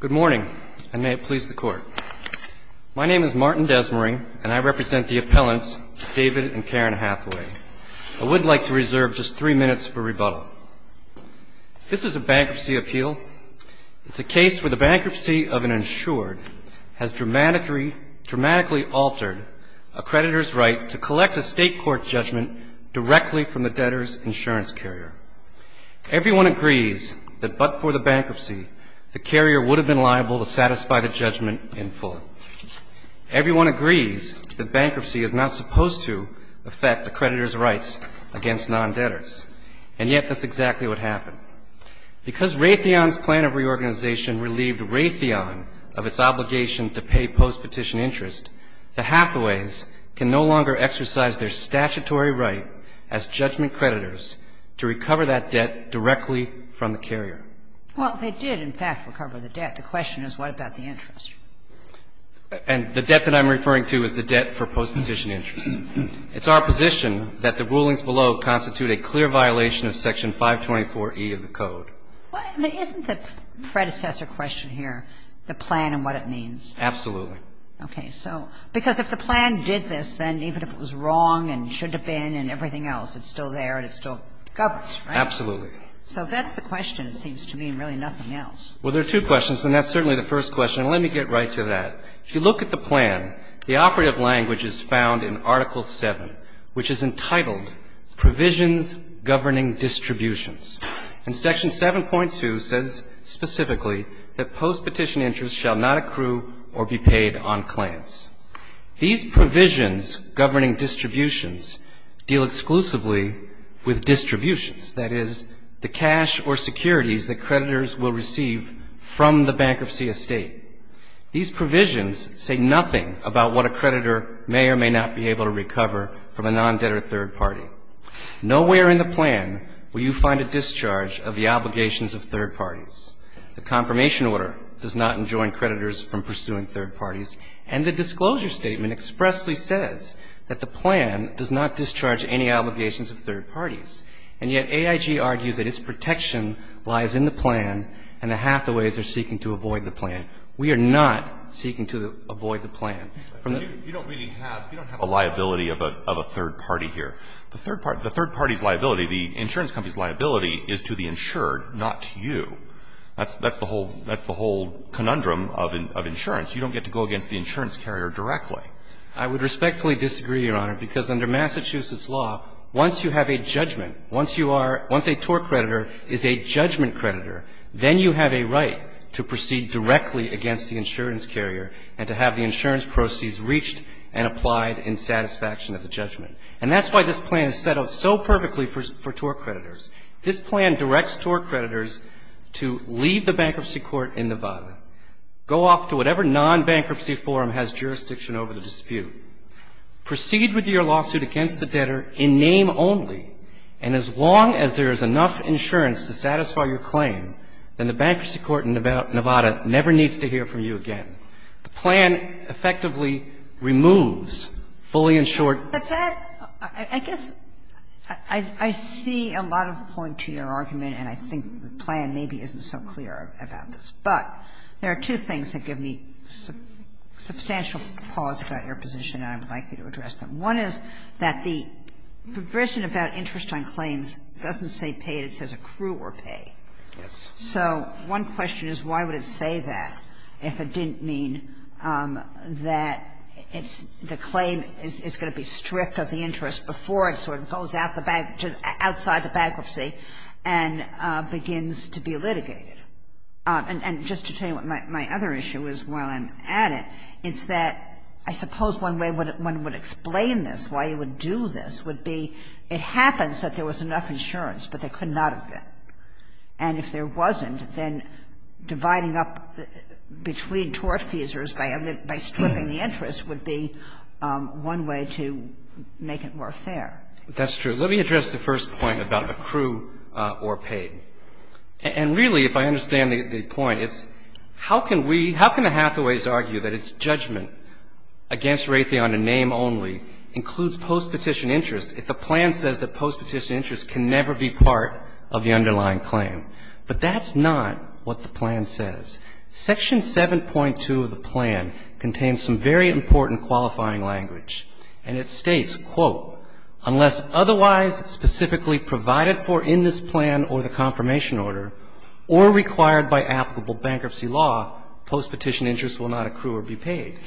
Good morning, and may it please the Court. My name is Martin Desmarais, and I represent the appellants David and Karen Hathaway. I would like to reserve just three minutes for rebuttal. This is a bankruptcy appeal. It's a case where the bankruptcy of an insured has dramatically altered a creditor's right to collect a state court judgment directly from the debtor's insurance carrier. Everyone agrees that but for the bankruptcy, the carrier would have been liable to satisfy the judgment in full. Everyone agrees that bankruptcy is not supposed to affect a creditor's rights against non-debtors, and yet that's exactly what happened. Because Raytheon's plan of reorganization relieved Raytheon of its obligation to pay post-petition interest, the Hathaways can no longer exercise their statutory right as judgment creditors to recover that debt directly from the carrier. Well, they did, in fact, recover the debt. The question is, what about the interest? And the debt that I'm referring to is the debt for post-petition interest. It's our position that the rulings below constitute a clear violation of Section 524E of the Code. Isn't the predecessor question here the plan and what it means? Absolutely. Okay. So because if the plan did this, then even if it was wrong and should have been and everything else, it's still there and it still governs, right? Absolutely. So if that's the question, it seems to mean really nothing else. Well, there are two questions, and that's certainly the first question. And let me get right to that. If you look at the plan, the operative language is found in Article 7, which is entitled Provisions Governing Distributions. And Section 7.2 says specifically that post-petition interest shall not accrue or be paid on claims. These provisions governing distributions deal exclusively with distributions. That is, the cash or securities that creditors will receive from the bankruptcy estate. These provisions say nothing about what a creditor may or may not be able to recover from a non-debtor third party. Nowhere in the plan will you find a discharge of the obligations of third parties. The confirmation order does not enjoin creditors from pursuing third parties. And the disclosure statement expressly says that the plan does not discharge any obligations of third parties. And yet AIG argues that its protection lies in the plan and the Hathaways are seeking to avoid the plan. We are not seeking to avoid the plan. You don't really have a liability of a third party here. The third party's liability, the insurance company's liability, is to the insured, not to you. That's the whole conundrum of insurance. You don't get to go against the insurance carrier directly. I would respectfully disagree, Your Honor, because under Massachusetts law, once you have a judgment, once you are – once a tort creditor is a judgment creditor, then you have a right to proceed directly against the insurance carrier and to have the insurance proceeds reached and applied in satisfaction of the judgment. And that's why this plan is set up so perfectly for tort creditors. This plan directs tort creditors to leave the bankruptcy court in Nevada, go off to whatever non-bankruptcy forum has jurisdiction over the dispute, proceed with your lawsuit against the debtor in name only. And as long as there is enough insurance to satisfy your claim, then the bankruptcy court in Nevada never needs to hear from you again. The plan effectively removes fully insured – Kagan. I guess I see a lot of point to your argument, and I think the plan maybe isn't so clear about this. But there are two things that give me substantial pause about your position, and I would like you to address them. One is that the provision about interest on claims doesn't say pay. It says accrue or pay. Yes. So one question is why would it say that if it didn't mean that it's – the claim is going to be stripped of the interest before it sort of goes out the bank – outside the bankruptcy and begins to be litigated. And just to tell you what my other issue is while I'm at it, it's that I suppose one way one would explain this, why you would do this, would be it happens that there was enough insurance, but there could not have been. And if there wasn't, then dividing up between tortfeasors by stripping the interest would be one way to make it more fair. That's true. Let me address the first point about accrue or pay. And really, if I understand the point, it's how can we – how can the Hathaways argue that its judgment against Raytheon in name only includes postpetition interest if the plan says that postpetition interest can never be part of the underlying claim? But that's not what the plan says. Section 7.2 of the plan contains some very important qualifying language. And it states, quote, unless otherwise specifically provided for in this plan or the confirmation order or required by applicable bankruptcy law, postpetition interest will not accrue or be paid.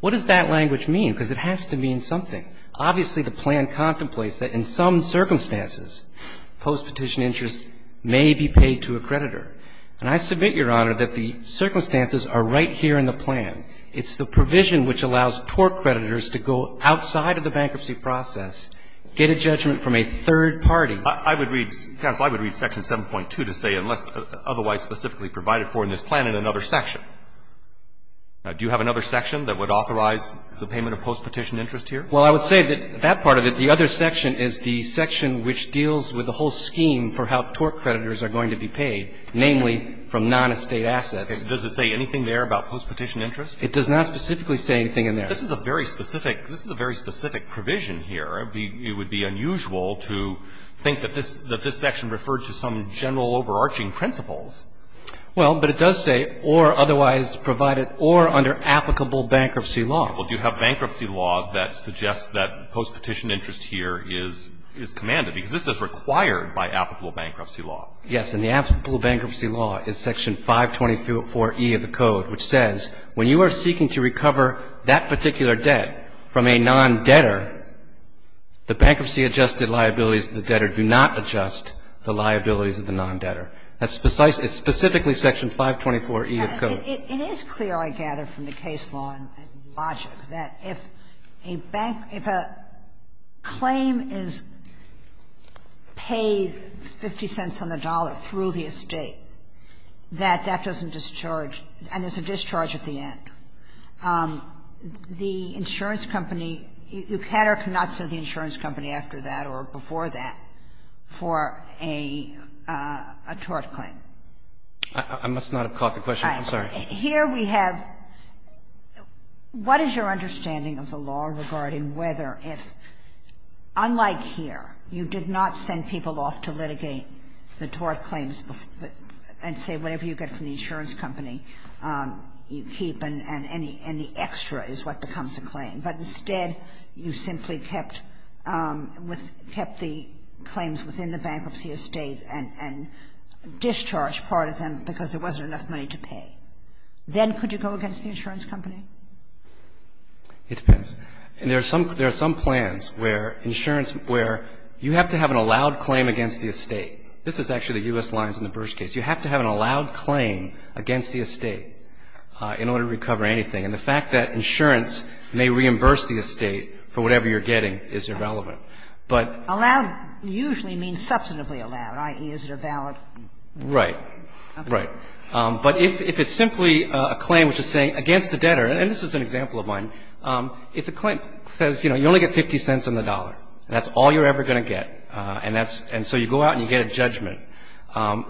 What does that language mean? Because it has to mean something. Obviously, the plan contemplates that in some circumstances, postpetition interest may be paid to a creditor. And I submit, Your Honor, that the circumstances are right here in the plan. It's the provision which allows tort creditors to go outside of the bankruptcy process, get a judgment from a third party. I would read – counsel, I would read section 7.2 to say unless otherwise specifically provided for in this plan in another section. Do you have another section that would authorize the payment of postpetition interest here? Well, I would say that that part of it, the other section, is the section which deals with the whole scheme for how tort creditors are going to be paid, namely from non-estate assets. Does it say anything there about postpetition interest? It does not specifically say anything in there. This is a very specific – this is a very specific provision here. It would be unusual to think that this section referred to some general overarching principles. Well, but it does say or otherwise provided or under applicable bankruptcy law. Do you have bankruptcy law that suggests that postpetition interest here is commanded? Because this is required by applicable bankruptcy law. Yes. And the applicable bankruptcy law is section 524E of the Code, which says when you are seeking to recover that particular debt from a non-debtor, the bankruptcy adjusted liabilities of the debtor do not adjust the liabilities of the non-debtor. It is clear, I gather, from the case law and logic, that if a bank – if a claim is paid 50 cents on the dollar through the estate, that that doesn't discharge – and there's a discharge at the end. The insurance company, you cannot sue the insurance company after that or before that for a tort claim. I must not have caught the question. I'm sorry. Here we have – what is your understanding of the law regarding whether if, unlike here, you did not send people off to litigate the tort claims and say whatever you get from the insurance company, you keep and the extra is what becomes a claim, but instead you simply kept the claims within the bankruptcy estate and discharged part of them because there wasn't enough money to pay, then could you go against the insurance company? It depends. There are some plans where insurance – where you have to have an allowed claim against the estate. This is actually the U.S. lines in the Bursch case. You have to have an allowed claim against the estate in order to recover anything. And the fact that insurance may reimburse the estate for whatever you're getting is irrelevant. But – Allowed usually means substantively allowed, i.e., is it a valid claim? Right. Right. But if it's simply a claim which is saying against the debtor, and this is an example of mine, if the claim says, you know, you only get 50 cents on the dollar, that's all you're ever going to get, and that's – and so you go out and you get a judgment,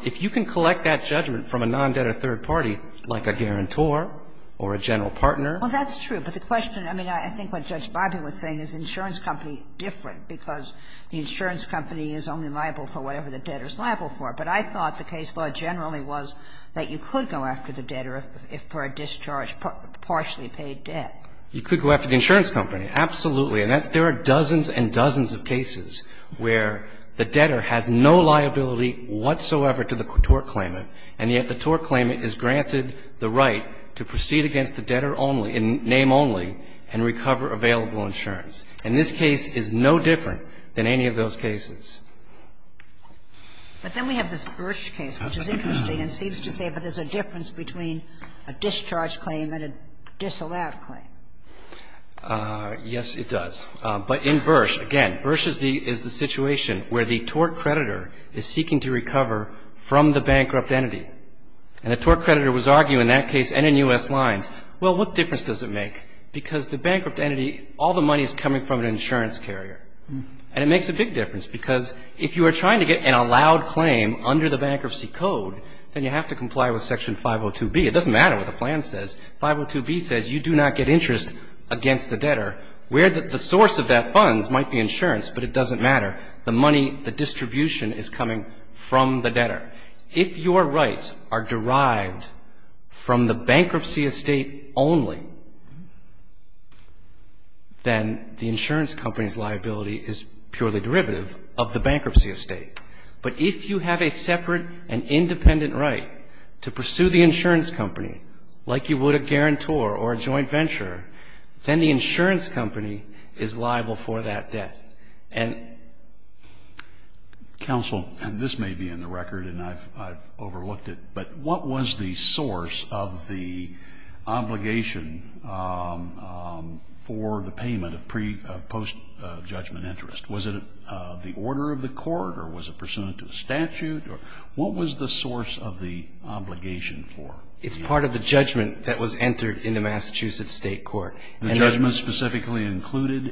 if you can collect that judgment from a non-debtor third party, like a guarantor or a general partner – Well, that's true. But the question – I mean, I think what Judge Barbee was saying is insurance company different, because the insurance company is only liable for whatever the debtor is liable for. But I thought the case law generally was that you could go after the debtor if for a discharge, partially paid debt. You could go after the insurance company, absolutely. And that's – there are dozens and dozens of cases where the debtor has no liability whatsoever to the tort claimant, and yet the tort claimant is granted the right to proceed against the debtor only, in name only, and recover available insurance. And this case is no different than any of those cases. But then we have this Bursch case, which is interesting and seems to say that there's a difference between a discharge claim and a disallowed claim. Yes, it does. But in Bursch, again, Bursch is the situation where the tort creditor is seeking to recover from the bankrupt entity. And the tort creditor was arguing in that case and in U.S. lines, well, what difference does it make? Because the bankrupt entity, all the money is coming from an insurance carrier. And it makes a big difference, because if you are trying to get an allowed claim under the bankruptcy code, then you have to comply with Section 502B. It doesn't matter what the plan says. 502B says you do not get interest against the debtor, where the source of that funds might be insurance, but it doesn't matter. The money, the distribution is coming from the debtor. If your rights are derived from the bankruptcy estate only, then the insurance company's liability is purely derivative of the bankruptcy estate. But if you have a separate and independent right to pursue the insurance company, like you would a guarantor or a joint venturer, then the insurance company is liable for that debt. And this may be in the record, and I've overlooked it, but what was the source of the judgment interest? Was it the order of the court, or was it pursuant to the statute, or what was the source of the obligation for it? It's part of the judgment that was entered in the Massachusetts state court. The judgment specifically included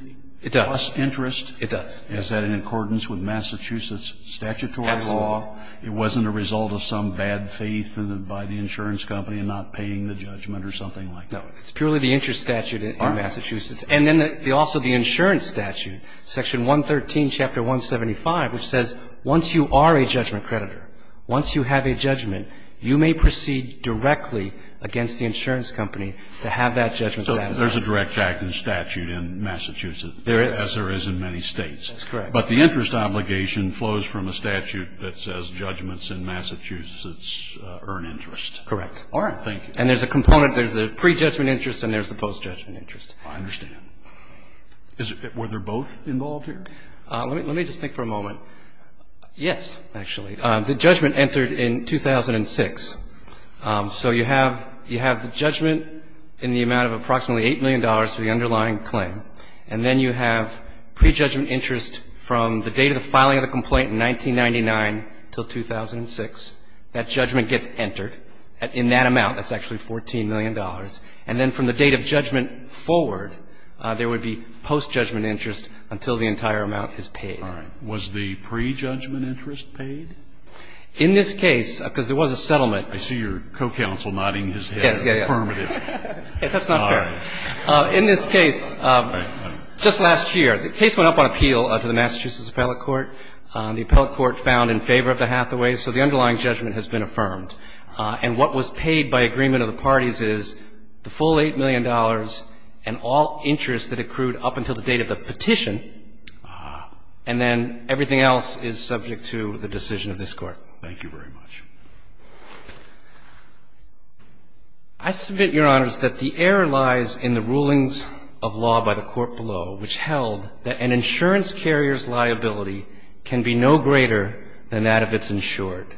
interest? It does. Is that in accordance with Massachusetts statutory law? It wasn't a result of some bad faith by the insurance company in not paying the judgment or something like that? No, it's purely the interest statute in Massachusetts. And then also the insurance statute, section 113, chapter 175, which says once you are a judgment creditor, once you have a judgment, you may proceed directly against the insurance company to have that judgment satisfied. So there's a direct act of statute in Massachusetts, as there is in many states. That's correct. But the interest obligation flows from a statute that says judgments in Massachusetts earn interest. Correct. All right. Thank you. And there's a component. There's the pre-judgment interest, and there's the post-judgment interest. I understand. Were they both involved here? Let me just think for a moment. Yes, actually. The judgment entered in 2006. So you have the judgment in the amount of approximately $8 million for the underlying claim, and then you have pre-judgment interest from the date of the filing of the complaint in 1999 until 2006. That judgment gets entered in that amount. That's actually $14 million. And then from the date of judgment forward, there would be post-judgment interest until the entire amount is paid. All right. Was the pre-judgment interest paid? In this case, because there was a settlement. I see your co-counsel nodding his head, affirmative. Yes, yes, yes. That's not fair. All right. In this case, just last year, the case went up on appeal to the Massachusetts Appellate Court. The Appellate Court found in favor of the Hathaway, so the underlying judgment has been affirmed. And what was paid by agreement of the parties is the full $8 million and all interest that accrued up until the date of the petition. And then everything else is subject to the decision of this Court. Thank you very much. I submit, Your Honors, that the error lies in the rulings of law by the Court below, which held that an insurance carrier's liability can be no greater than that of its insured.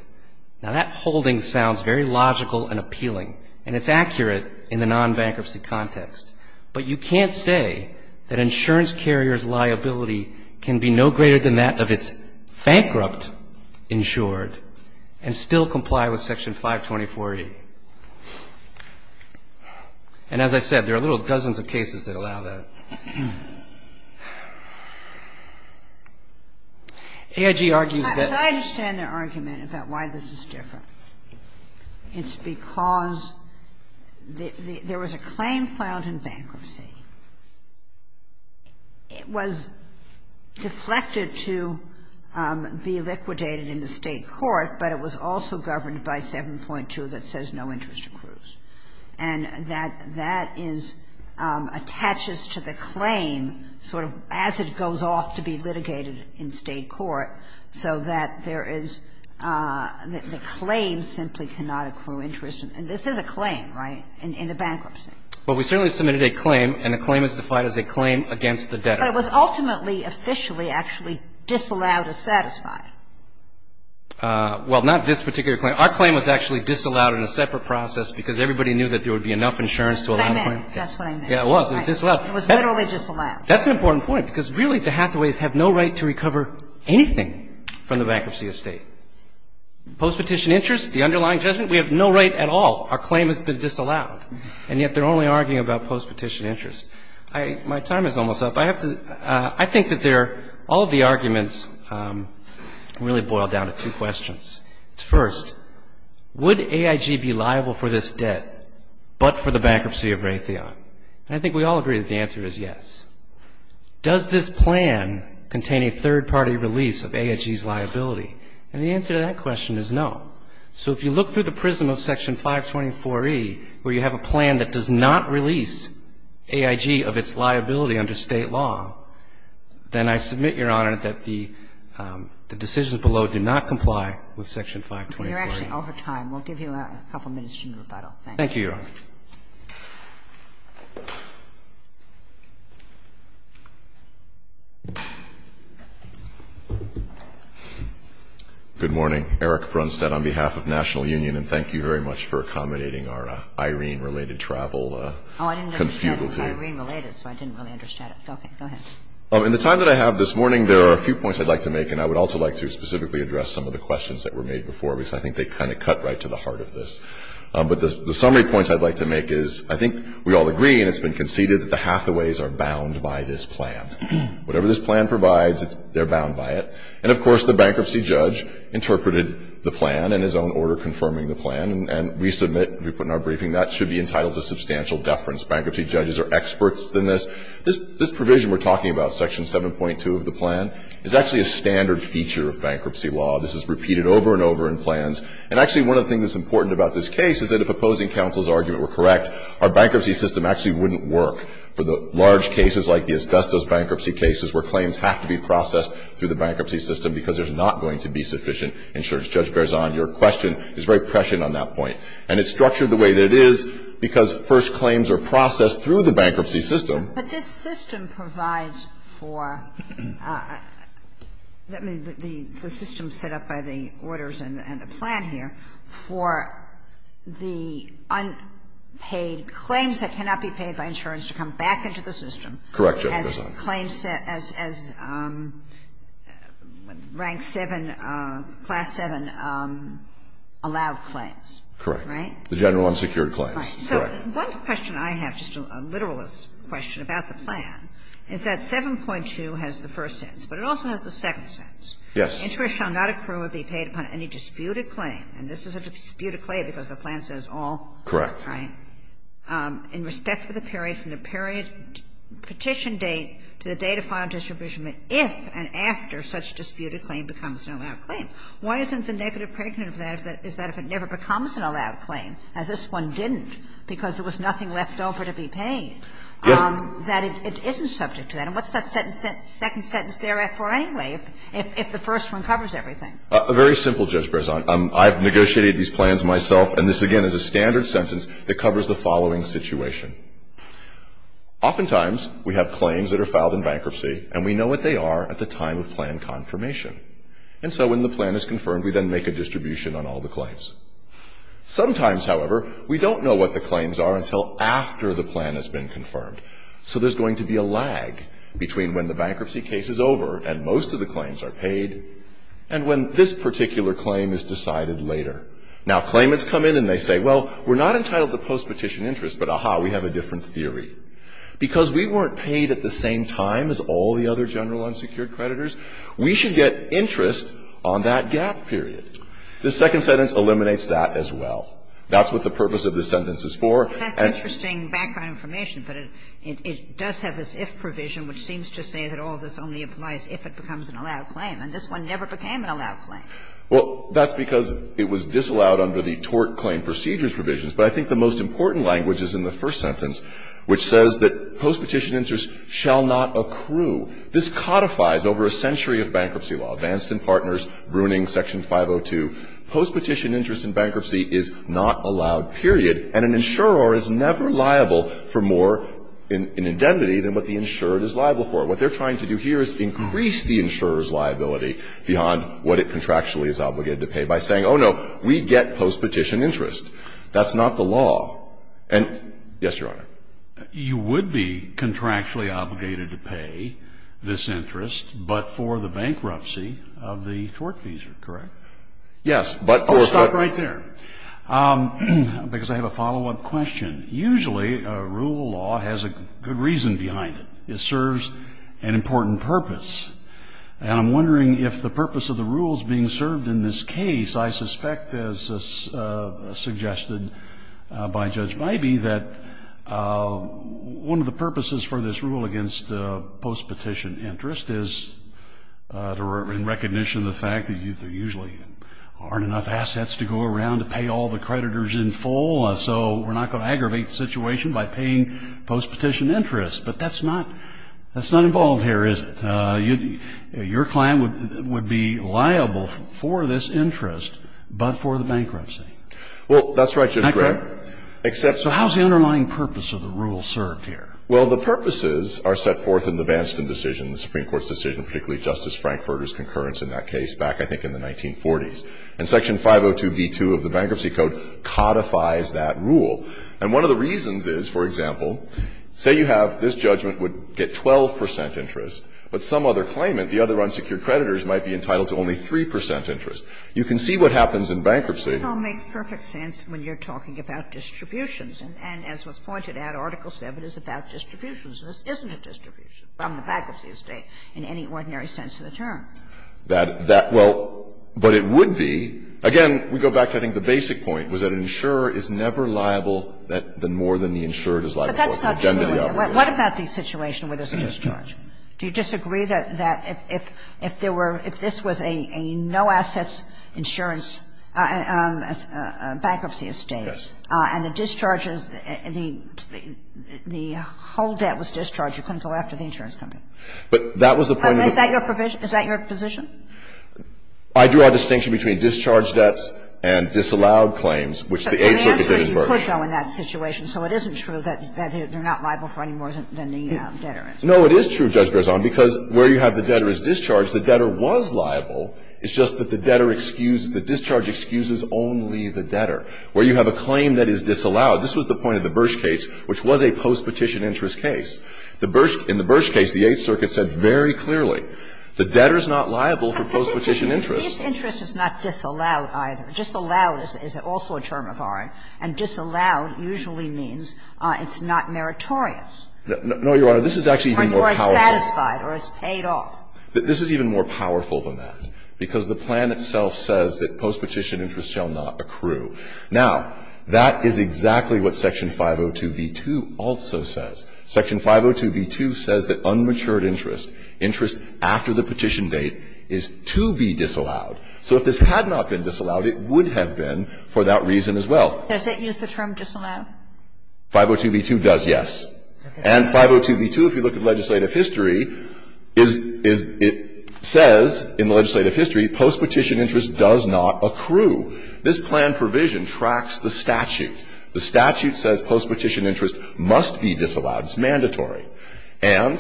Now, that holding sounds very logical and appealing, and it's accurate in the non-bankruptcy context. But you can't say that insurance carrier's liability can be no greater than that of its bankrupt insured and still comply with Section 524A. And as I said, there are little dozens of cases that allow that. I don't know why this is different. It's because there was a claim filed in bankruptcy. It was deflected to be liquidated in the State court, but it was also governed by 7.2 that says no interest accrues, and that that is attaches to the claim sort of as it goes off to be litigated in State court, so that there is the claim simply cannot accrue interest. And this is a claim, right, in the bankruptcy. Well, we certainly submitted a claim, and the claim is defined as a claim against the debtor. But it was ultimately, officially, actually disallowed as satisfied. Well, not this particular claim. Our claim was actually disallowed in a separate process because everybody knew that there would be enough insurance to allow the claim. That's what I meant. That's what I meant. Yeah, it was. It was disallowed. It was literally disallowed. That's an important point, because really the Hathaways have no right to recover anything from the bankruptcy of State. Postpetition interest, the underlying judgment, we have no right at all. Our claim has been disallowed. And yet they're only arguing about postpetition interest. I — my time is almost up. I have to — I think that there are — all of the arguments really boil down to two questions. First, would AIG be liable for this debt, but for the bankruptcy of Raytheon? And I think we all agree that the answer is yes. Does this plan contain a third-party release of AIG's liability? And the answer to that question is no. So if you look through the prism of Section 524e, where you have a plan that does not release AIG of its liability under State law, then I submit, Your Honor, that the decisions below did not comply with Section 524e. You're actually over time. We'll give you a couple minutes to rebuttal. Thank you. Thank you, Your Honor. Thank you. Good morning. Eric Brunstad on behalf of National Union. And thank you very much for accommodating our Irene-related travel confudelty. Oh, I didn't understand it was Irene-related, so I didn't really understand it. Okay, go ahead. In the time that I have this morning, there are a few points I'd like to make. And I would also like to specifically address some of the questions that were made before, because I think they kind of cut right to the heart of this. But the summary points I'd like to make is, I think we all agree, and it's been conceded, that the hathaways are bound by this plan. Whatever this plan provides, they're bound by it. And, of course, the bankruptcy judge interpreted the plan in his own order confirming the plan. And we submit, we put in our briefing, that should be entitled to substantial deference. Bankruptcy judges are experts in this. This provision we're talking about, Section 7.2 of the plan, is actually a standard feature of bankruptcy law. This is repeated over and over in plans. And actually, one of the things that's important about this case is that if opposing counsel's argument were correct, our bankruptcy system actually wouldn't work for the large cases like the Asbestos bankruptcy cases where claims have to be processed through the bankruptcy system because there's not going to be sufficient insurance. Judge Berzon, your question is very prescient on that point. And it's structured the way that it is because first claims are processed through the bankruptcy system. But this system provides for, I mean, the system set up by the orders and the plan here for the unpaid claims that cannot be paid by insurance to come back into the system. Correct, Judge Berzon. As claims, as Rank 7, Class 7 allowed claims, right? Correct. The general unsecured claims, correct. One question I have, just a literalist question about the plan, is that 7.2 has the first sentence, but it also has the second sentence. Yes. Interest shall not accrue or be paid upon any disputed claim. And this is a disputed claim because the plan says all. Correct. Right? In respect to the period, from the period petition date to the date of final distribution if and after such disputed claim becomes an allowed claim. Why isn't the negative pregnant of that is that if it never becomes an allowed claim, as this one didn't because there was nothing left over to be paid, that it isn't subject to that? And what's that second sentence there for anyway if the first one covers everything? Very simple, Judge Berzon. I've negotiated these plans myself, and this, again, is a standard sentence that covers the following situation. Oftentimes we have claims that are filed in bankruptcy, and we know what they are at the time of plan confirmation. And so when the plan is confirmed, we then make a distribution on all the claims. Sometimes, however, we don't know what the claims are until after the plan has been confirmed. So there's going to be a lag between when the bankruptcy case is over and most of the claims are paid and when this particular claim is decided later. Now, claimants come in and they say, well, we're not entitled to postpetition interest, but, aha, we have a different theory. Because we weren't paid at the same time as all the other general unsecured creditors, we should get interest on that gap period. This second sentence eliminates that as well. That's what the purpose of this sentence is for. And that's interesting background information, but it does have this if provision, which seems to say that all this only applies if it becomes an allowed claim. And this one never became an allowed claim. Well, that's because it was disallowed under the tort claim procedures provisions. But I think the most important language is in the first sentence, which says that postpetition interest shall not accrue. This codifies over a century of bankruptcy law. Vanston Partners, Bruning, Section 502. Postpetition interest in bankruptcy is not allowed, period. And an insurer is never liable for more in indemnity than what the insured is liable for. What they're trying to do here is increase the insurer's liability beyond what it contractually is obligated to pay by saying, oh, no, we get postpetition interest. That's not the law. And yes, Your Honor. You would be contractually obligated to pay this interest, but for the bankruptcy of the tort fees, correct? Yes, but for the fees. I'll stop right there, because I have a follow-up question. Usually, a rule of law has a good reason behind it. It serves an important purpose. And I'm wondering if the purpose of the rule is being served in this case. I suspect, as suggested by Judge Miby, that one of the purposes for this rule against postpetition interest is in recognition of the fact that there usually aren't enough assets to go around to pay all the creditors in full. So we're not going to aggravate the situation by paying postpetition interest. But that's not involved here, is it? Your client would be liable for this interest, but for the bankruptcy. Well, that's right, Judge Gray. So how is the underlying purpose of the rule served here? Well, the purposes are set forth in the Banston decision, the Supreme Court's decision, particularly Justice Frankfurter's concurrence in that case back, I think, in the 1940s. And Section 502b2 of the Bankruptcy Code codifies that rule. And one of the reasons is, for example, say you have this judgment would get 12 percent interest, but some other claimant, the other unsecured creditors, might be entitled to only 3 percent interest. You can see what happens in bankruptcy. It all makes perfect sense when you're talking about distributions. And as was pointed out, Article VII is about distributions. This isn't a distribution from the bankruptcy estate in any ordinary sense of the term. That that – well, but it would be. Again, we go back to, I think, the basic point, was that an insurer is never liable more than the insured is liable. But that's not true here. What about the situation where there's a mischarge? Do you disagree that if there were – if this was a no-assets insurance bankruptcy estate and the discharges – the whole debt was discharged, you couldn't go after the insurance company? But that was the point of the point of the case. Is that your position? I drew a distinction between discharged debts and disallowed claims, which the A circuit did emerge. But the answer is you could go in that situation. So it isn't true that they're not liable for any more than the debtor is. No, it is true, Judge Berzon, because where you have the debtor is discharged, the debtor was liable. It's just that the debtor – the discharge excuses only the debtor. Where you have a claim that is disallowed – this was the point of the Birch case, which was a postpetition interest case. The Birch – in the Birch case, the Eighth Circuit said very clearly, the debtor is not liable for postpetition interest. But disinterest is not disallowed either. Disallowed is also a term of ours, and disallowed usually means it's not meritorious. No, Your Honor, this is actually even more powerful. Or you are satisfied or it's paid off. This is even more powerful than that, because the plan itself says that postpetition interest shall not accrue. Now, that is exactly what Section 502b2 also says. Section 502b2 says that unmatured interest, interest after the petition date, is to be disallowed. So if this had not been disallowed, it would have been for that reason as well. Does it use the term disallowed? 502b2 does, yes. And 502b2, if you look at legislative history, is – is – it says in the legislative history postpetition interest does not accrue. This plan provision tracks the statute. The statute says postpetition interest must be disallowed. It's mandatory. And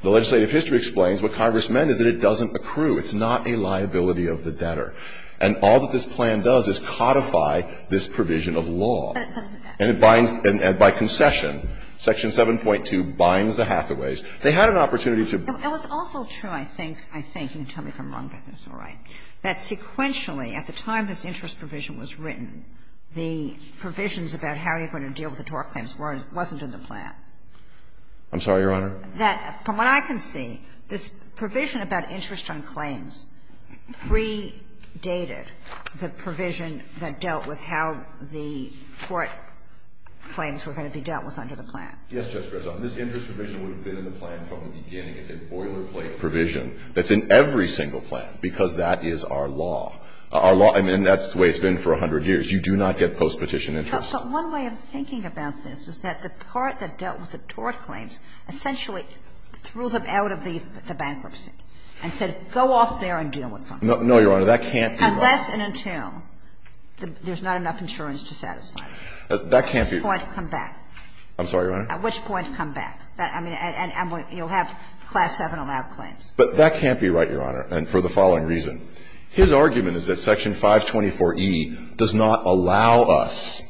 the legislative history explains what Congress meant is that it doesn't accrue. It's not a liability of the debtor. And all that this plan does is codify this provision of law. And it binds – and by concession, Section 7.2 binds the hathaways. They had an opportunity to – It was also true, I think, I think, you can tell me if I'm wrong, but it's all right, that sequentially, at the time this interest provision was written, the provisions about how you're going to deal with the tort claims weren't in the plan. I'm sorry, Your Honor? That, from what I can see, this provision about interest on claims predated the provision that dealt with how the tort claims were going to be dealt with under the plan. Yes, Justice Breyer. This interest provision would have been in the plan from the beginning. It's a boilerplate provision that's in every single plan, because that is our law. Our law – and that's the way it's been for 100 years. You do not get postpetition interest. But one way of thinking about this is that the part that dealt with the tort claims essentially threw them out of the bankruptcy and said, go off there and deal with them. No, Your Honor, that can't be right. Unless and until there's not enough insurance to satisfy them. That can't be right. At which point, come back. I'm sorry, Your Honor? At which point, come back. I mean, and you'll have Class VII-allowed claims. But that can't be right, Your Honor, and for the following reason. His argument is that Section 524e does not allow us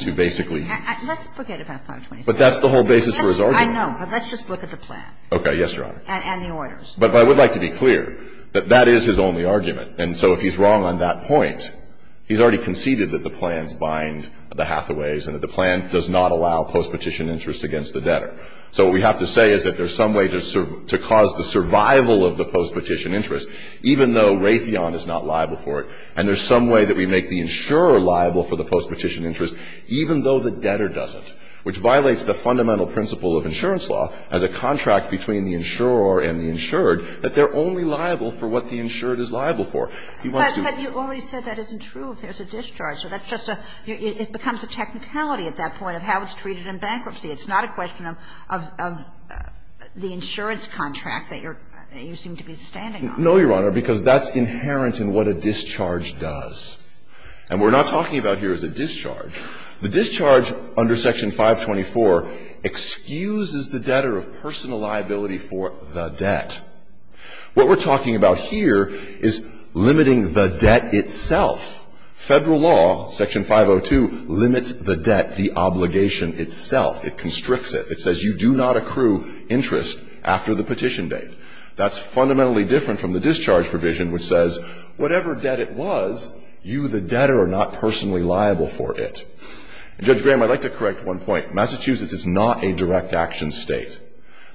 to basically – Let's forget about 524e. But that's the whole basis for his argument. I know, but let's just look at the plan. Okay. Yes, Your Honor. And the orders. But I would like to be clear that that is his only argument. And so if he's wrong on that point, he's already conceded that the plans bind the Hathaways and that the plan does not allow postpetition interest against the debtor. So what we have to say is that there's some way to cause the survival of the postpetition interest, even though Raytheon is not liable for it, and there's some way that we make the insurer liable for the postpetition interest, even though the debtor doesn't, which violates the fundamental principle of insurance law as a contract between the insurer and the insured, that they're only liable for what the insured is liable for. He wants to do it. But you already said that isn't true if there's a discharge. So that's just a – it becomes a technicality at that point of how it's treated in bankruptcy. It's not a question of the insurance contract that you seem to be standing on. No, Your Honor, because that's inherent in what a discharge does. And what we're not talking about here is a discharge. The discharge under Section 524 excuses the debtor of personal liability for the debt. What we're talking about here is limiting the debt itself. Federal law, Section 502, limits the debt, the obligation itself. It constricts it. It says you do not accrue interest after the petition date. That's fundamentally different from the discharge provision, which says, whatever debt it was, you, the debtor, are not personally liable for it. Judge Graham, I'd like to correct one point. Massachusetts is not a direct action state.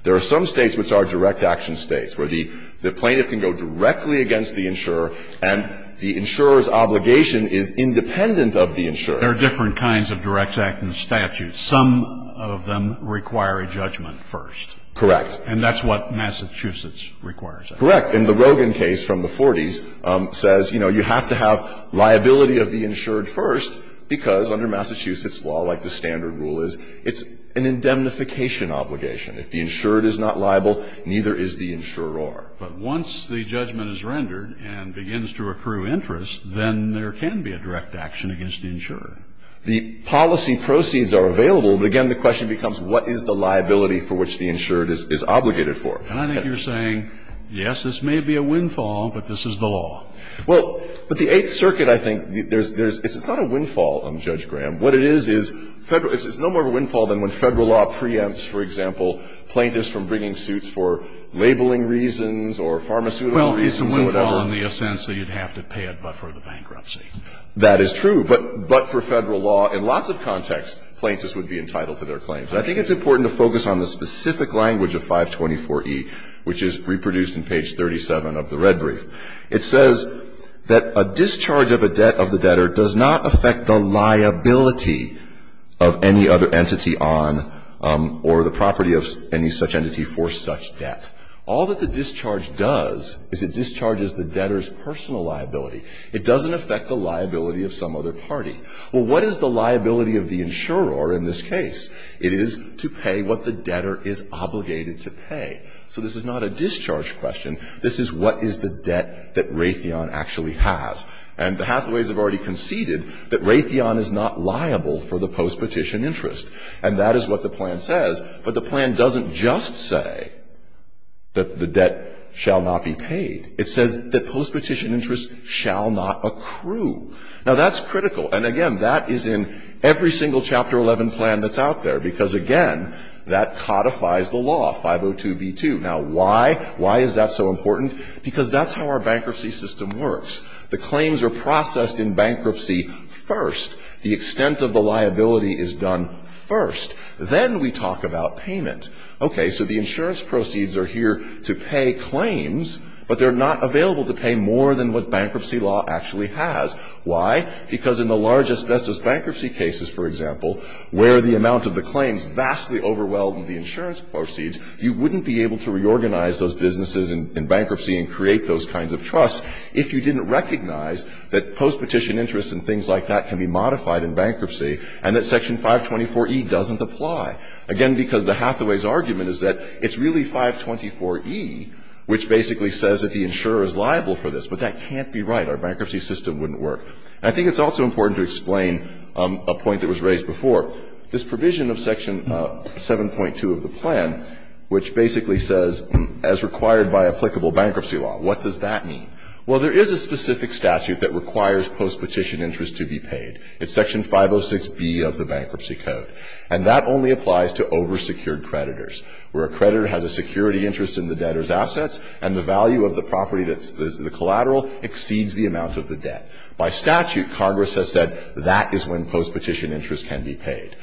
There are some states which are direct action states where the plaintiff can go directly against the insurer and the insurer's obligation is independent of the insurer. There are different kinds of direct action statutes. Some of them require a judgment first. Correct. And that's what Massachusetts requires. Correct. And the Rogin case from the 40s says, you know, you have to have liability of the insured first because under Massachusetts law, like the standard rule is, it's an indemnification obligation. If the insured is not liable, neither is the insurer. But once the judgment is rendered and begins to accrue interest, then there can be a direct action against the insurer. The policy proceeds are available, but again, the question becomes, what is the liability for which the insured is obligated for? And I think you're saying, yes, this may be a windfall, but this is the law. Well, but the Eighth Circuit, I think, there's – it's not a windfall, Judge Graham. What it is, is it's no more of a windfall than when Federal law preempts, for example, plaintiffs from bringing suits for labeling reasons or pharmaceutical reasons or whatever. Well, it's a windfall in the sense that you'd have to pay it, but for the bankruptcy. That is true. But for Federal law, in lots of contexts, plaintiffs would be entitled to their claims. I think it's important to focus on the specific language of 524E, which is reproduced in page 37 of the red brief. It says that a discharge of a debt of the debtor does not affect the liability of any other entity on or the property of any such entity for such debt. All that the discharge does is it discharges the debtor's personal liability. It doesn't affect the liability of some other party. Well, what is the liability of the insurer in this case? It is to pay what the debtor is obligated to pay. So this is not a discharge question. This is what is the debt that Raytheon actually has. And the Hathaways have already conceded that Raytheon is not liable for the postpetition interest, and that is what the plan says. But the plan doesn't just say that the debt shall not be paid. It says that postpetition interest shall not accrue. Now, that's critical. And, again, that is in every single Chapter 11 plan that's out there, because, again, that codifies the law, 502B2. Now, why? Why is that so important? Because that's how our bankruptcy system works. The claims are processed in bankruptcy first. The extent of the liability is done first. Then we talk about payment. Okay. So the insurance proceeds are here to pay claims, but they're not available to pay more than what bankruptcy law actually has. Why? Because in the large asbestos bankruptcy cases, for example, where the amount of the claims vastly overwhelmed the insurance proceeds, you wouldn't be able to reorganize those businesses in bankruptcy and create those kinds of trusts if you didn't recognize that postpetition interest and things like that can be modified in bankruptcy and that Section 524E doesn't apply. Again, because the Hathaway's argument is that it's really 524E which basically says that the insurer is liable for this, but that can't be right. Our bankruptcy system wouldn't work. And I think it's also important to explain a point that was raised before. This provision of Section 7.2 of the plan, which basically says, as required by applicable bankruptcy law, what does that mean? Well, there is a specific statute that requires postpetition interest to be paid. It's Section 506B of the Bankruptcy Code. And that only applies to oversecured creditors, where a creditor has a security interest in the debtor's assets and the value of the property that's the collateral exceeds the amount of the debt. By statute, Congress has said that is when postpetition interest can be paid.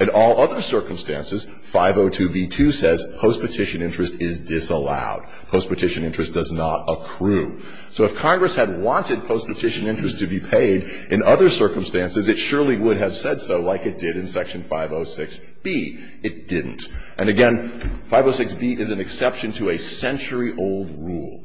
In all other circumstances, 502B2 says postpetition interest is disallowed. Postpetition interest does not accrue. So if Congress had wanted postpetition interest to be paid in other circumstances, it surely would have said so like it did in Section 506B. It didn't. And again, 506B is an exception to a century-old rule.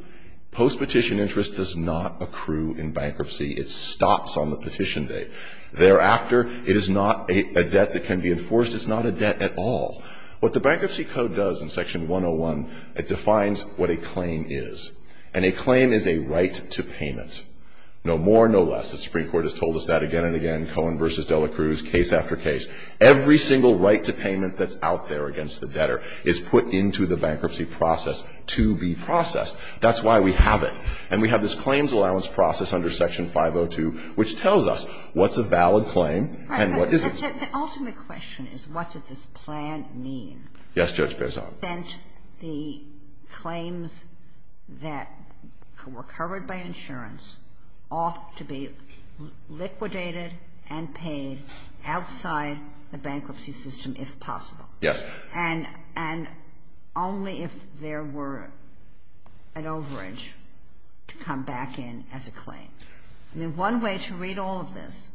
Postpetition interest does not accrue in bankruptcy. It stops on the petition date. Thereafter, it is not a debt that can be enforced. It's not a debt at all. What the Bankruptcy Code does in Section 101, it defines what a claim is. And a claim is a right to payment, no more, no less. The Supreme Court has told us that again and again, Cohen v. De La Cruz, case after case. Every single right to payment that's out there against the debtor is put into the bankruptcy process to be processed. That's why we have it. And we have this claims allowance process under Section 502, which tells us what's a valid claim and what isn't. Sotomayor, the ultimate question is, what did this plan mean? Yes, Judge Bezan. Sent the claims that were covered by insurance off to be liquidated and paid outside the bankruptcy system if possible. Yes. And only if there were an overage to come back in as a claim. I mean, one way to read all of this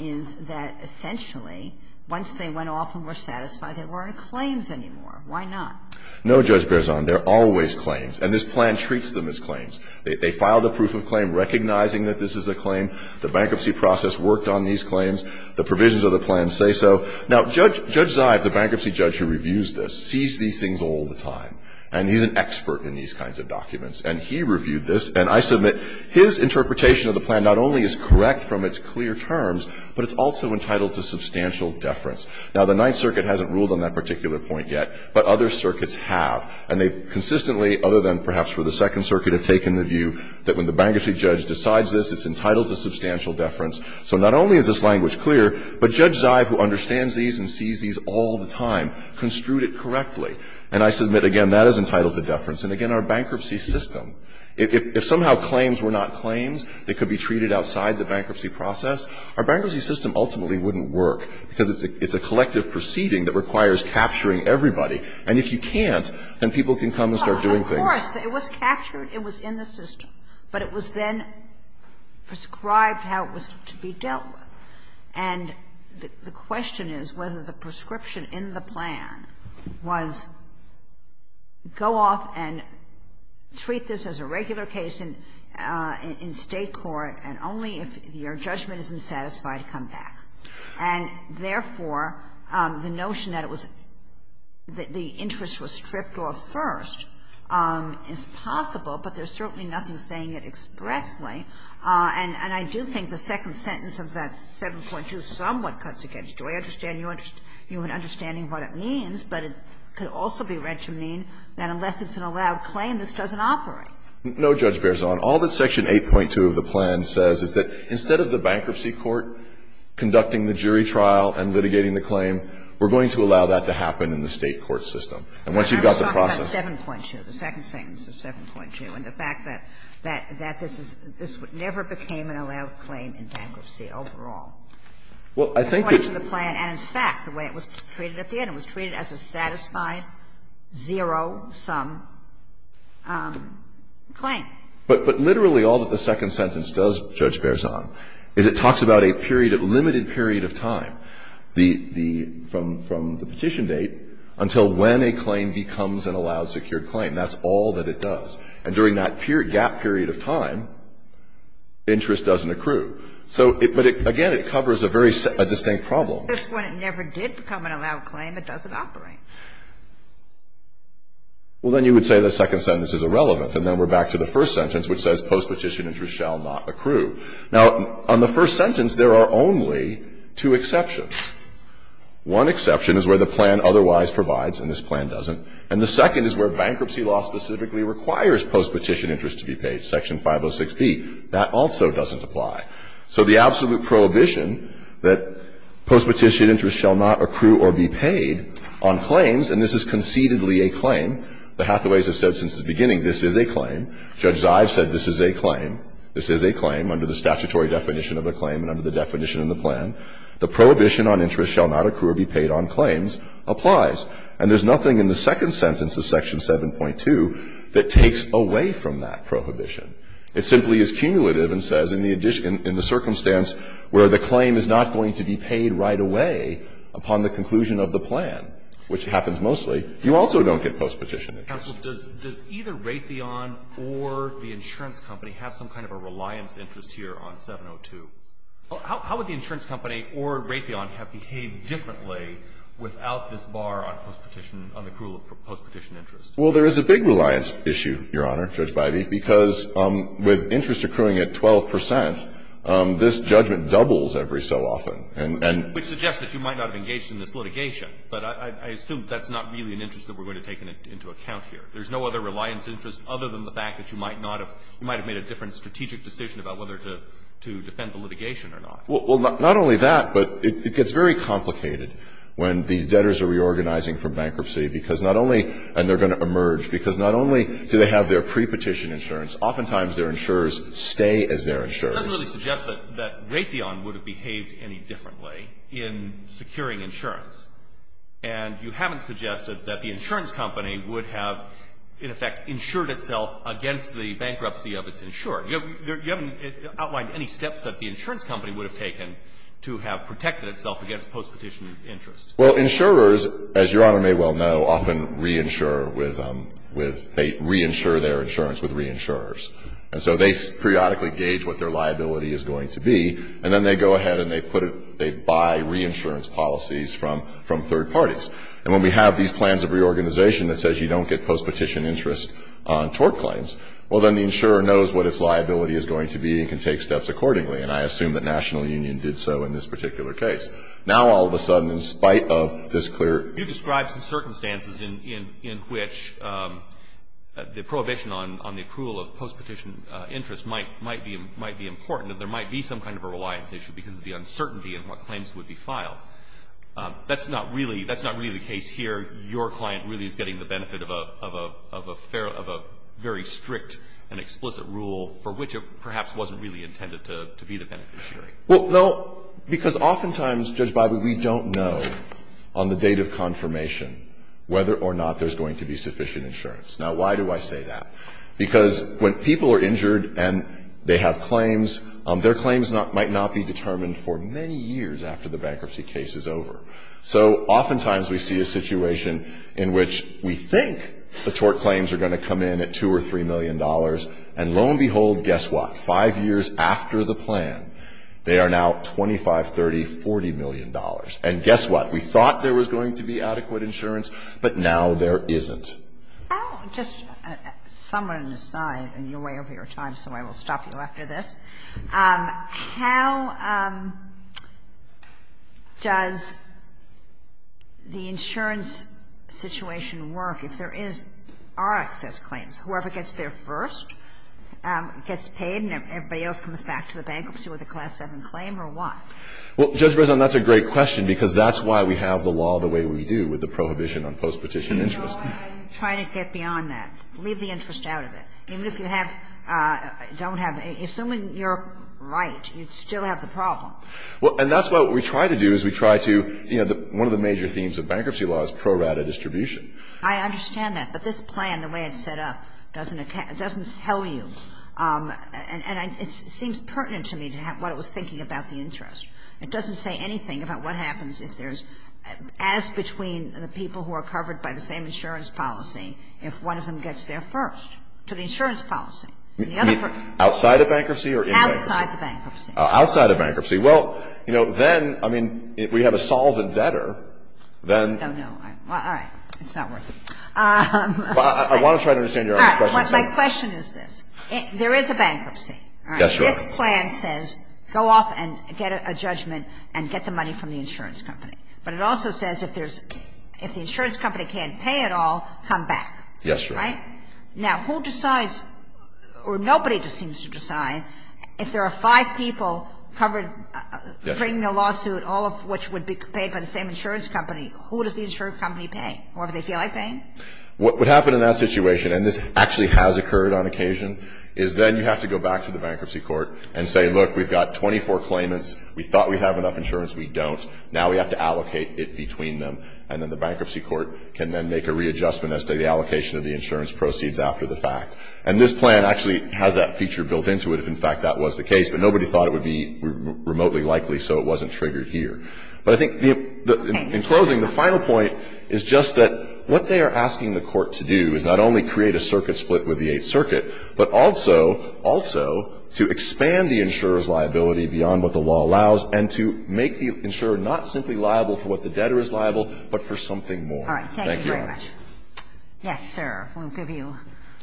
is that essentially, once they went off and were satisfied, there weren't claims anymore. Why not? No, Judge Bezan. There are always claims. And this plan treats them as claims. They filed a proof of claim recognizing that this is a claim. The bankruptcy process worked on these claims. The provisions of the plan say so. Now, Judge Zive, the bankruptcy judge who reviews this, sees these things all the time. And he's an expert in these kinds of documents. And he reviewed this. And I submit, his interpretation of the plan not only is correct from its clear terms, but it's also entitled to substantial deference. Now, the Ninth Circuit hasn't ruled on that particular point yet, but other circuits have. And they've consistently, other than perhaps for the Second Circuit, have taken the view that when the bankruptcy judge decides this, it's entitled to substantial deference. So not only is this language clear, but Judge Zive, who understands these and sees these all the time, construed it correctly. And I submit, again, that is entitled to deference. And again, our bankruptcy system, if somehow claims were not claims that could be treated outside the bankruptcy process, our bankruptcy system ultimately wouldn't work, because it's a collective proceeding that requires capturing everybody. And if you can't, then people can come and start doing things. Sotomayor, it was captured, it was in the system, but it was then prescribed how it was to be dealt with. And the question is whether the prescription in the plan was go off and treat this as a regular case in State court, and only if your judgment isn't satisfied, come back. And therefore, the notion that it was the interest was stripped off first is possible, but there's certainly nothing saying it expressly. And I do think the second sentence of that 7.2 somewhat cuts against you. I understand you're understanding what it means, but it could also be retchamine, that unless it's an allowed claim, this doesn't operate. No, Judge Beerson. All that Section 8.2 of the plan says is that instead of the bankruptcy court conducting the jury trial and litigating the claim, we're going to allow that to happen in the State court system. And once you've got the process. I was talking about 7.2, the second sentence of 7.2, and the fact that this is, this never became an allowed claim in bankruptcy overall. Well, I think that's the plan, and in fact, the way it was treated at the end, it was treated as a satisfied, zero-sum claim. But literally all that the second sentence does, Judge Beerson, is it talks about a period, a limited period of time, the, the, from, from the petition date until when a claim becomes an allowed secured claim, that's all that it does. And during that period, gap period of time, interest doesn't accrue. So it, but it, again, it covers a very, a distinct problem. That's when it never did become an allowed claim, it doesn't operate. Well, then you would say the second sentence is irrelevant, and then we're back to the first sentence, which says post-petition interest shall not accrue. Now, on the first sentence, there are only two exceptions. One exception is where the plan otherwise provides, and this plan doesn't. And the second is where bankruptcy law specifically requires post-petition interest to be paid, Section 506b. That also doesn't apply. So the absolute prohibition that post-petition interest shall not accrue or be paid on claims, and this is concededly a claim, the Hathaways have said since the beginning, this is a claim. Judge Zive said this is a claim. This is a claim under the statutory definition of a claim and under the definition of the plan. The prohibition on interest shall not accrue or be paid on claims applies. And there's nothing in the second sentence of Section 7.2 that takes away from that prohibition. It simply is cumulative and says in the addition – in the circumstance where the claim is not going to be paid right away upon the conclusion of the plan, which happens mostly, you also don't get post-petition interest. Alitoson, does either Raytheon or the insurance company have some kind of a reliance interest here on 702? How would the insurance company or Raytheon have behaved differently without this bar on post-petition – on the accrual of post-petition interest? Well, there is a big reliance issue, Your Honor, Judge Bidey, because with interest accruing at 12 percent, this judgment doubles every so often, and – Which suggests that you might not have engaged in this litigation, but I assume that's not really an interest that we're going to take into account here. There's no other reliance interest other than the fact that you might not have – you might have made a different strategic decision about whether to defend the litigation or not. Well, not only that, but it gets very complicated when these debtors are reorganizing from bankruptcy, because not only – and they're going to emerge – because not only do they have their pre-petition insurance, oftentimes their insurers stay as their insurers. It doesn't really suggest that Raytheon would have behaved any differently in securing insurance. And you haven't suggested that the insurance company would have, in effect, insured itself against the bankruptcy of its insurer. You haven't outlined any steps that the insurance company would have taken to have protected itself against post-petition interest. Well, insurers, as Your Honor may well know, often reinsure with – they reinsure their insurance with reinsurers. And so they periodically gauge what their liability is going to be, and then they go ahead and they put it – they buy reinsurance policies from third parties. And when we have these plans of reorganization that says you don't get post-petition interest on tort claims, well, then the insurer knows what its liability is going to be and can take steps accordingly. And I assume that National Union did so in this particular case. Now, all of a sudden, in spite of this clear – You described some circumstances in which the prohibition on the approval of post-petition interest might be important, that there might be some kind of a reliance issue because of the uncertainty in what claims would be filed. That's not really – that's not really the case here. Your client really is getting the benefit of a – of a very strict and explicit rule for which it perhaps wasn't really intended to be the beneficiary. Well, no, because oftentimes, Judge Bibas, we don't know on the date of confirmation whether or not there's going to be sufficient insurance. Now, why do I say that? Because when people are injured and they have claims, their claims might not be determined for many years after the bankruptcy case is over. So oftentimes, we see a situation in which we think the tort claims are going to come in at $2 million or $3 million, and lo and behold, guess what? Five years after the plan, they are now $25 million, $30 million, $40 million. And guess what? We thought there was going to be adequate insurance, but now there isn't. I'll just – someone on the side, and you're way over your time, so I will stop you after this. How does the insurance situation work if there is – are excess claims? Whoever gets there first gets paid and everybody else comes back to the bankruptcy with a Class VII claim, or what? Well, Judge Breslin, that's a great question, because that's why we have the law the way we do with the prohibition on post-petition interest. I'm trying to get beyond that. Leave the interest out of it. Even if you have – don't have – assuming you're right, you still have the problem. Well, and that's why what we try to do is we try to – you know, one of the major themes of bankruptcy law is pro rata distribution. I understand that, but this plan, the way it's set up, doesn't tell you. And it seems pertinent to me what it was thinking about the interest. It doesn't say anything about what happens if there's – as between the people who are covered by the same insurance policy, if one of them gets there first. To the insurance policy. Outside of bankruptcy or in bankruptcy? Outside the bankruptcy. Outside of bankruptcy. Well, you know, then, I mean, if we have a solvent debtor, then – No, no. All right. It's not worth it. I want to try to understand Your Honor's question. My question is this. There is a bankruptcy. Yes, Your Honor. This plan says go off and get a judgment and get the money from the insurance company. But it also says if there's – if the insurance company can't pay it all, come back. Yes, Your Honor. Right? Now, who decides – or nobody seems to decide if there are five people covered bringing a lawsuit, all of which would be paid by the same insurance company, who does the insurance company pay? Whoever they feel like paying? What would happen in that situation – and this actually has occurred on occasion – is then you have to go back to the bankruptcy court and say, look, we've got 24 claimants. We thought we have enough insurance. We don't. Now we have to allocate it between them. And then the bankruptcy court can then make a readjustment as to the allocation of the insurance proceeds after the fact. And this plan actually has that feature built into it if, in fact, that was the case. But nobody thought it would be remotely likely, so it wasn't triggered here. But I think the – in closing, the final point is just that what they are asking the Court to do is not only create a circuit split with the Eighth Circuit, but also – also to expand the insurer's liability beyond what the law allows and to make the insurer not simply liable for what the debtor is liable, but for something more. Thank you, Your Honor. All right. Thank you very much. Yes, sir. We'll give you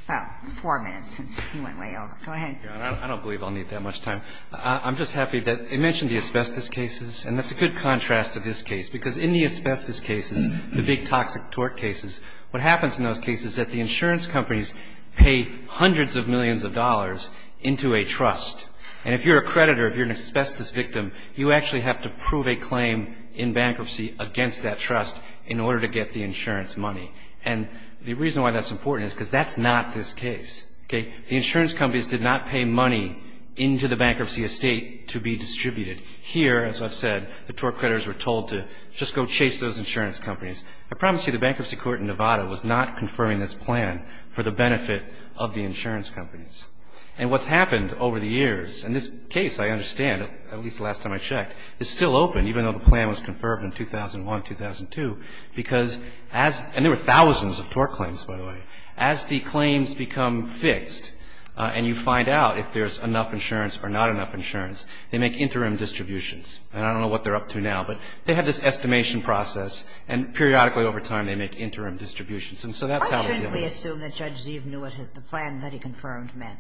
about four minutes since he went way over. Go ahead. I don't believe I'll need that much time. I'm just happy that – you mentioned the asbestos cases, and that's a good contrast to this case, because in the asbestos cases, the big toxic tort cases, what happens in those cases is that the insurance companies pay hundreds of millions of dollars into a trust. And if you're a creditor, if you're an asbestos victim, you actually have to prove a claim in bankruptcy against that trust in order to get the insurance money. And the reason why that's important is because that's not this case, okay? The insurance companies did not pay money into the bankruptcy estate to be distributed. Here, as I've said, the tort creditors were told to just go chase those insurance companies. I promise you the Bankruptcy Court in Nevada was not confirming this plan for the benefit of the insurance companies. And what's happened over the years – and this case, I understand, at least the last time I checked, is still open, even though the plan was confirmed in 2001, 2002, because as – and there were thousands of tort claims, by the way. As the claims become fixed, and you find out if there's enough insurance or not enough insurance, they make interim distributions. And I don't know what they're up to now, but they have this estimation process, and periodically over time, they make interim distributions. And so that's how we deal with it. I shouldn't assume that Judge Zeev knew what the plan that he confirmed meant.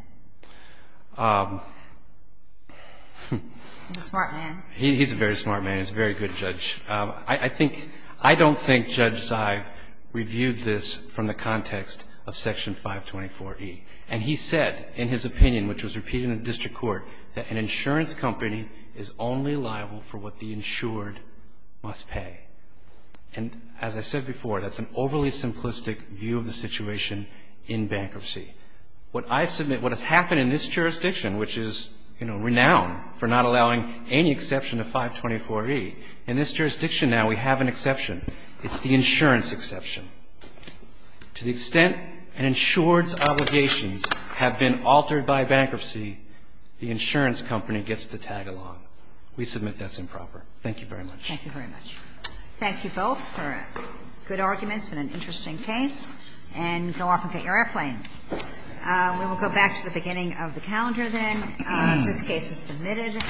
He's a smart man. He's a very smart man. He's a very good judge. I think – I don't think Judge Zeev reviewed this from the context of Section 524E. And he said, in his opinion, which was repeated in the district court, that an insurance company is only liable for what the insured must pay. And as I said before, that's an overly simplistic view of the situation in bankruptcy. What I submit – what has happened in this jurisdiction, which is, you know, renowned for not allowing any exception to 524E, in this jurisdiction now, we have an exception. It's the insurance exception. To the extent an insured's obligations have been altered by bankruptcy, the insurance company gets to tag along. We submit that's improper. Thank you very much. Thank you very much. Thank you both for good arguments and an interesting case. And go off and get your airplanes. We will go back to the beginning of the calendar then. This case is submitted.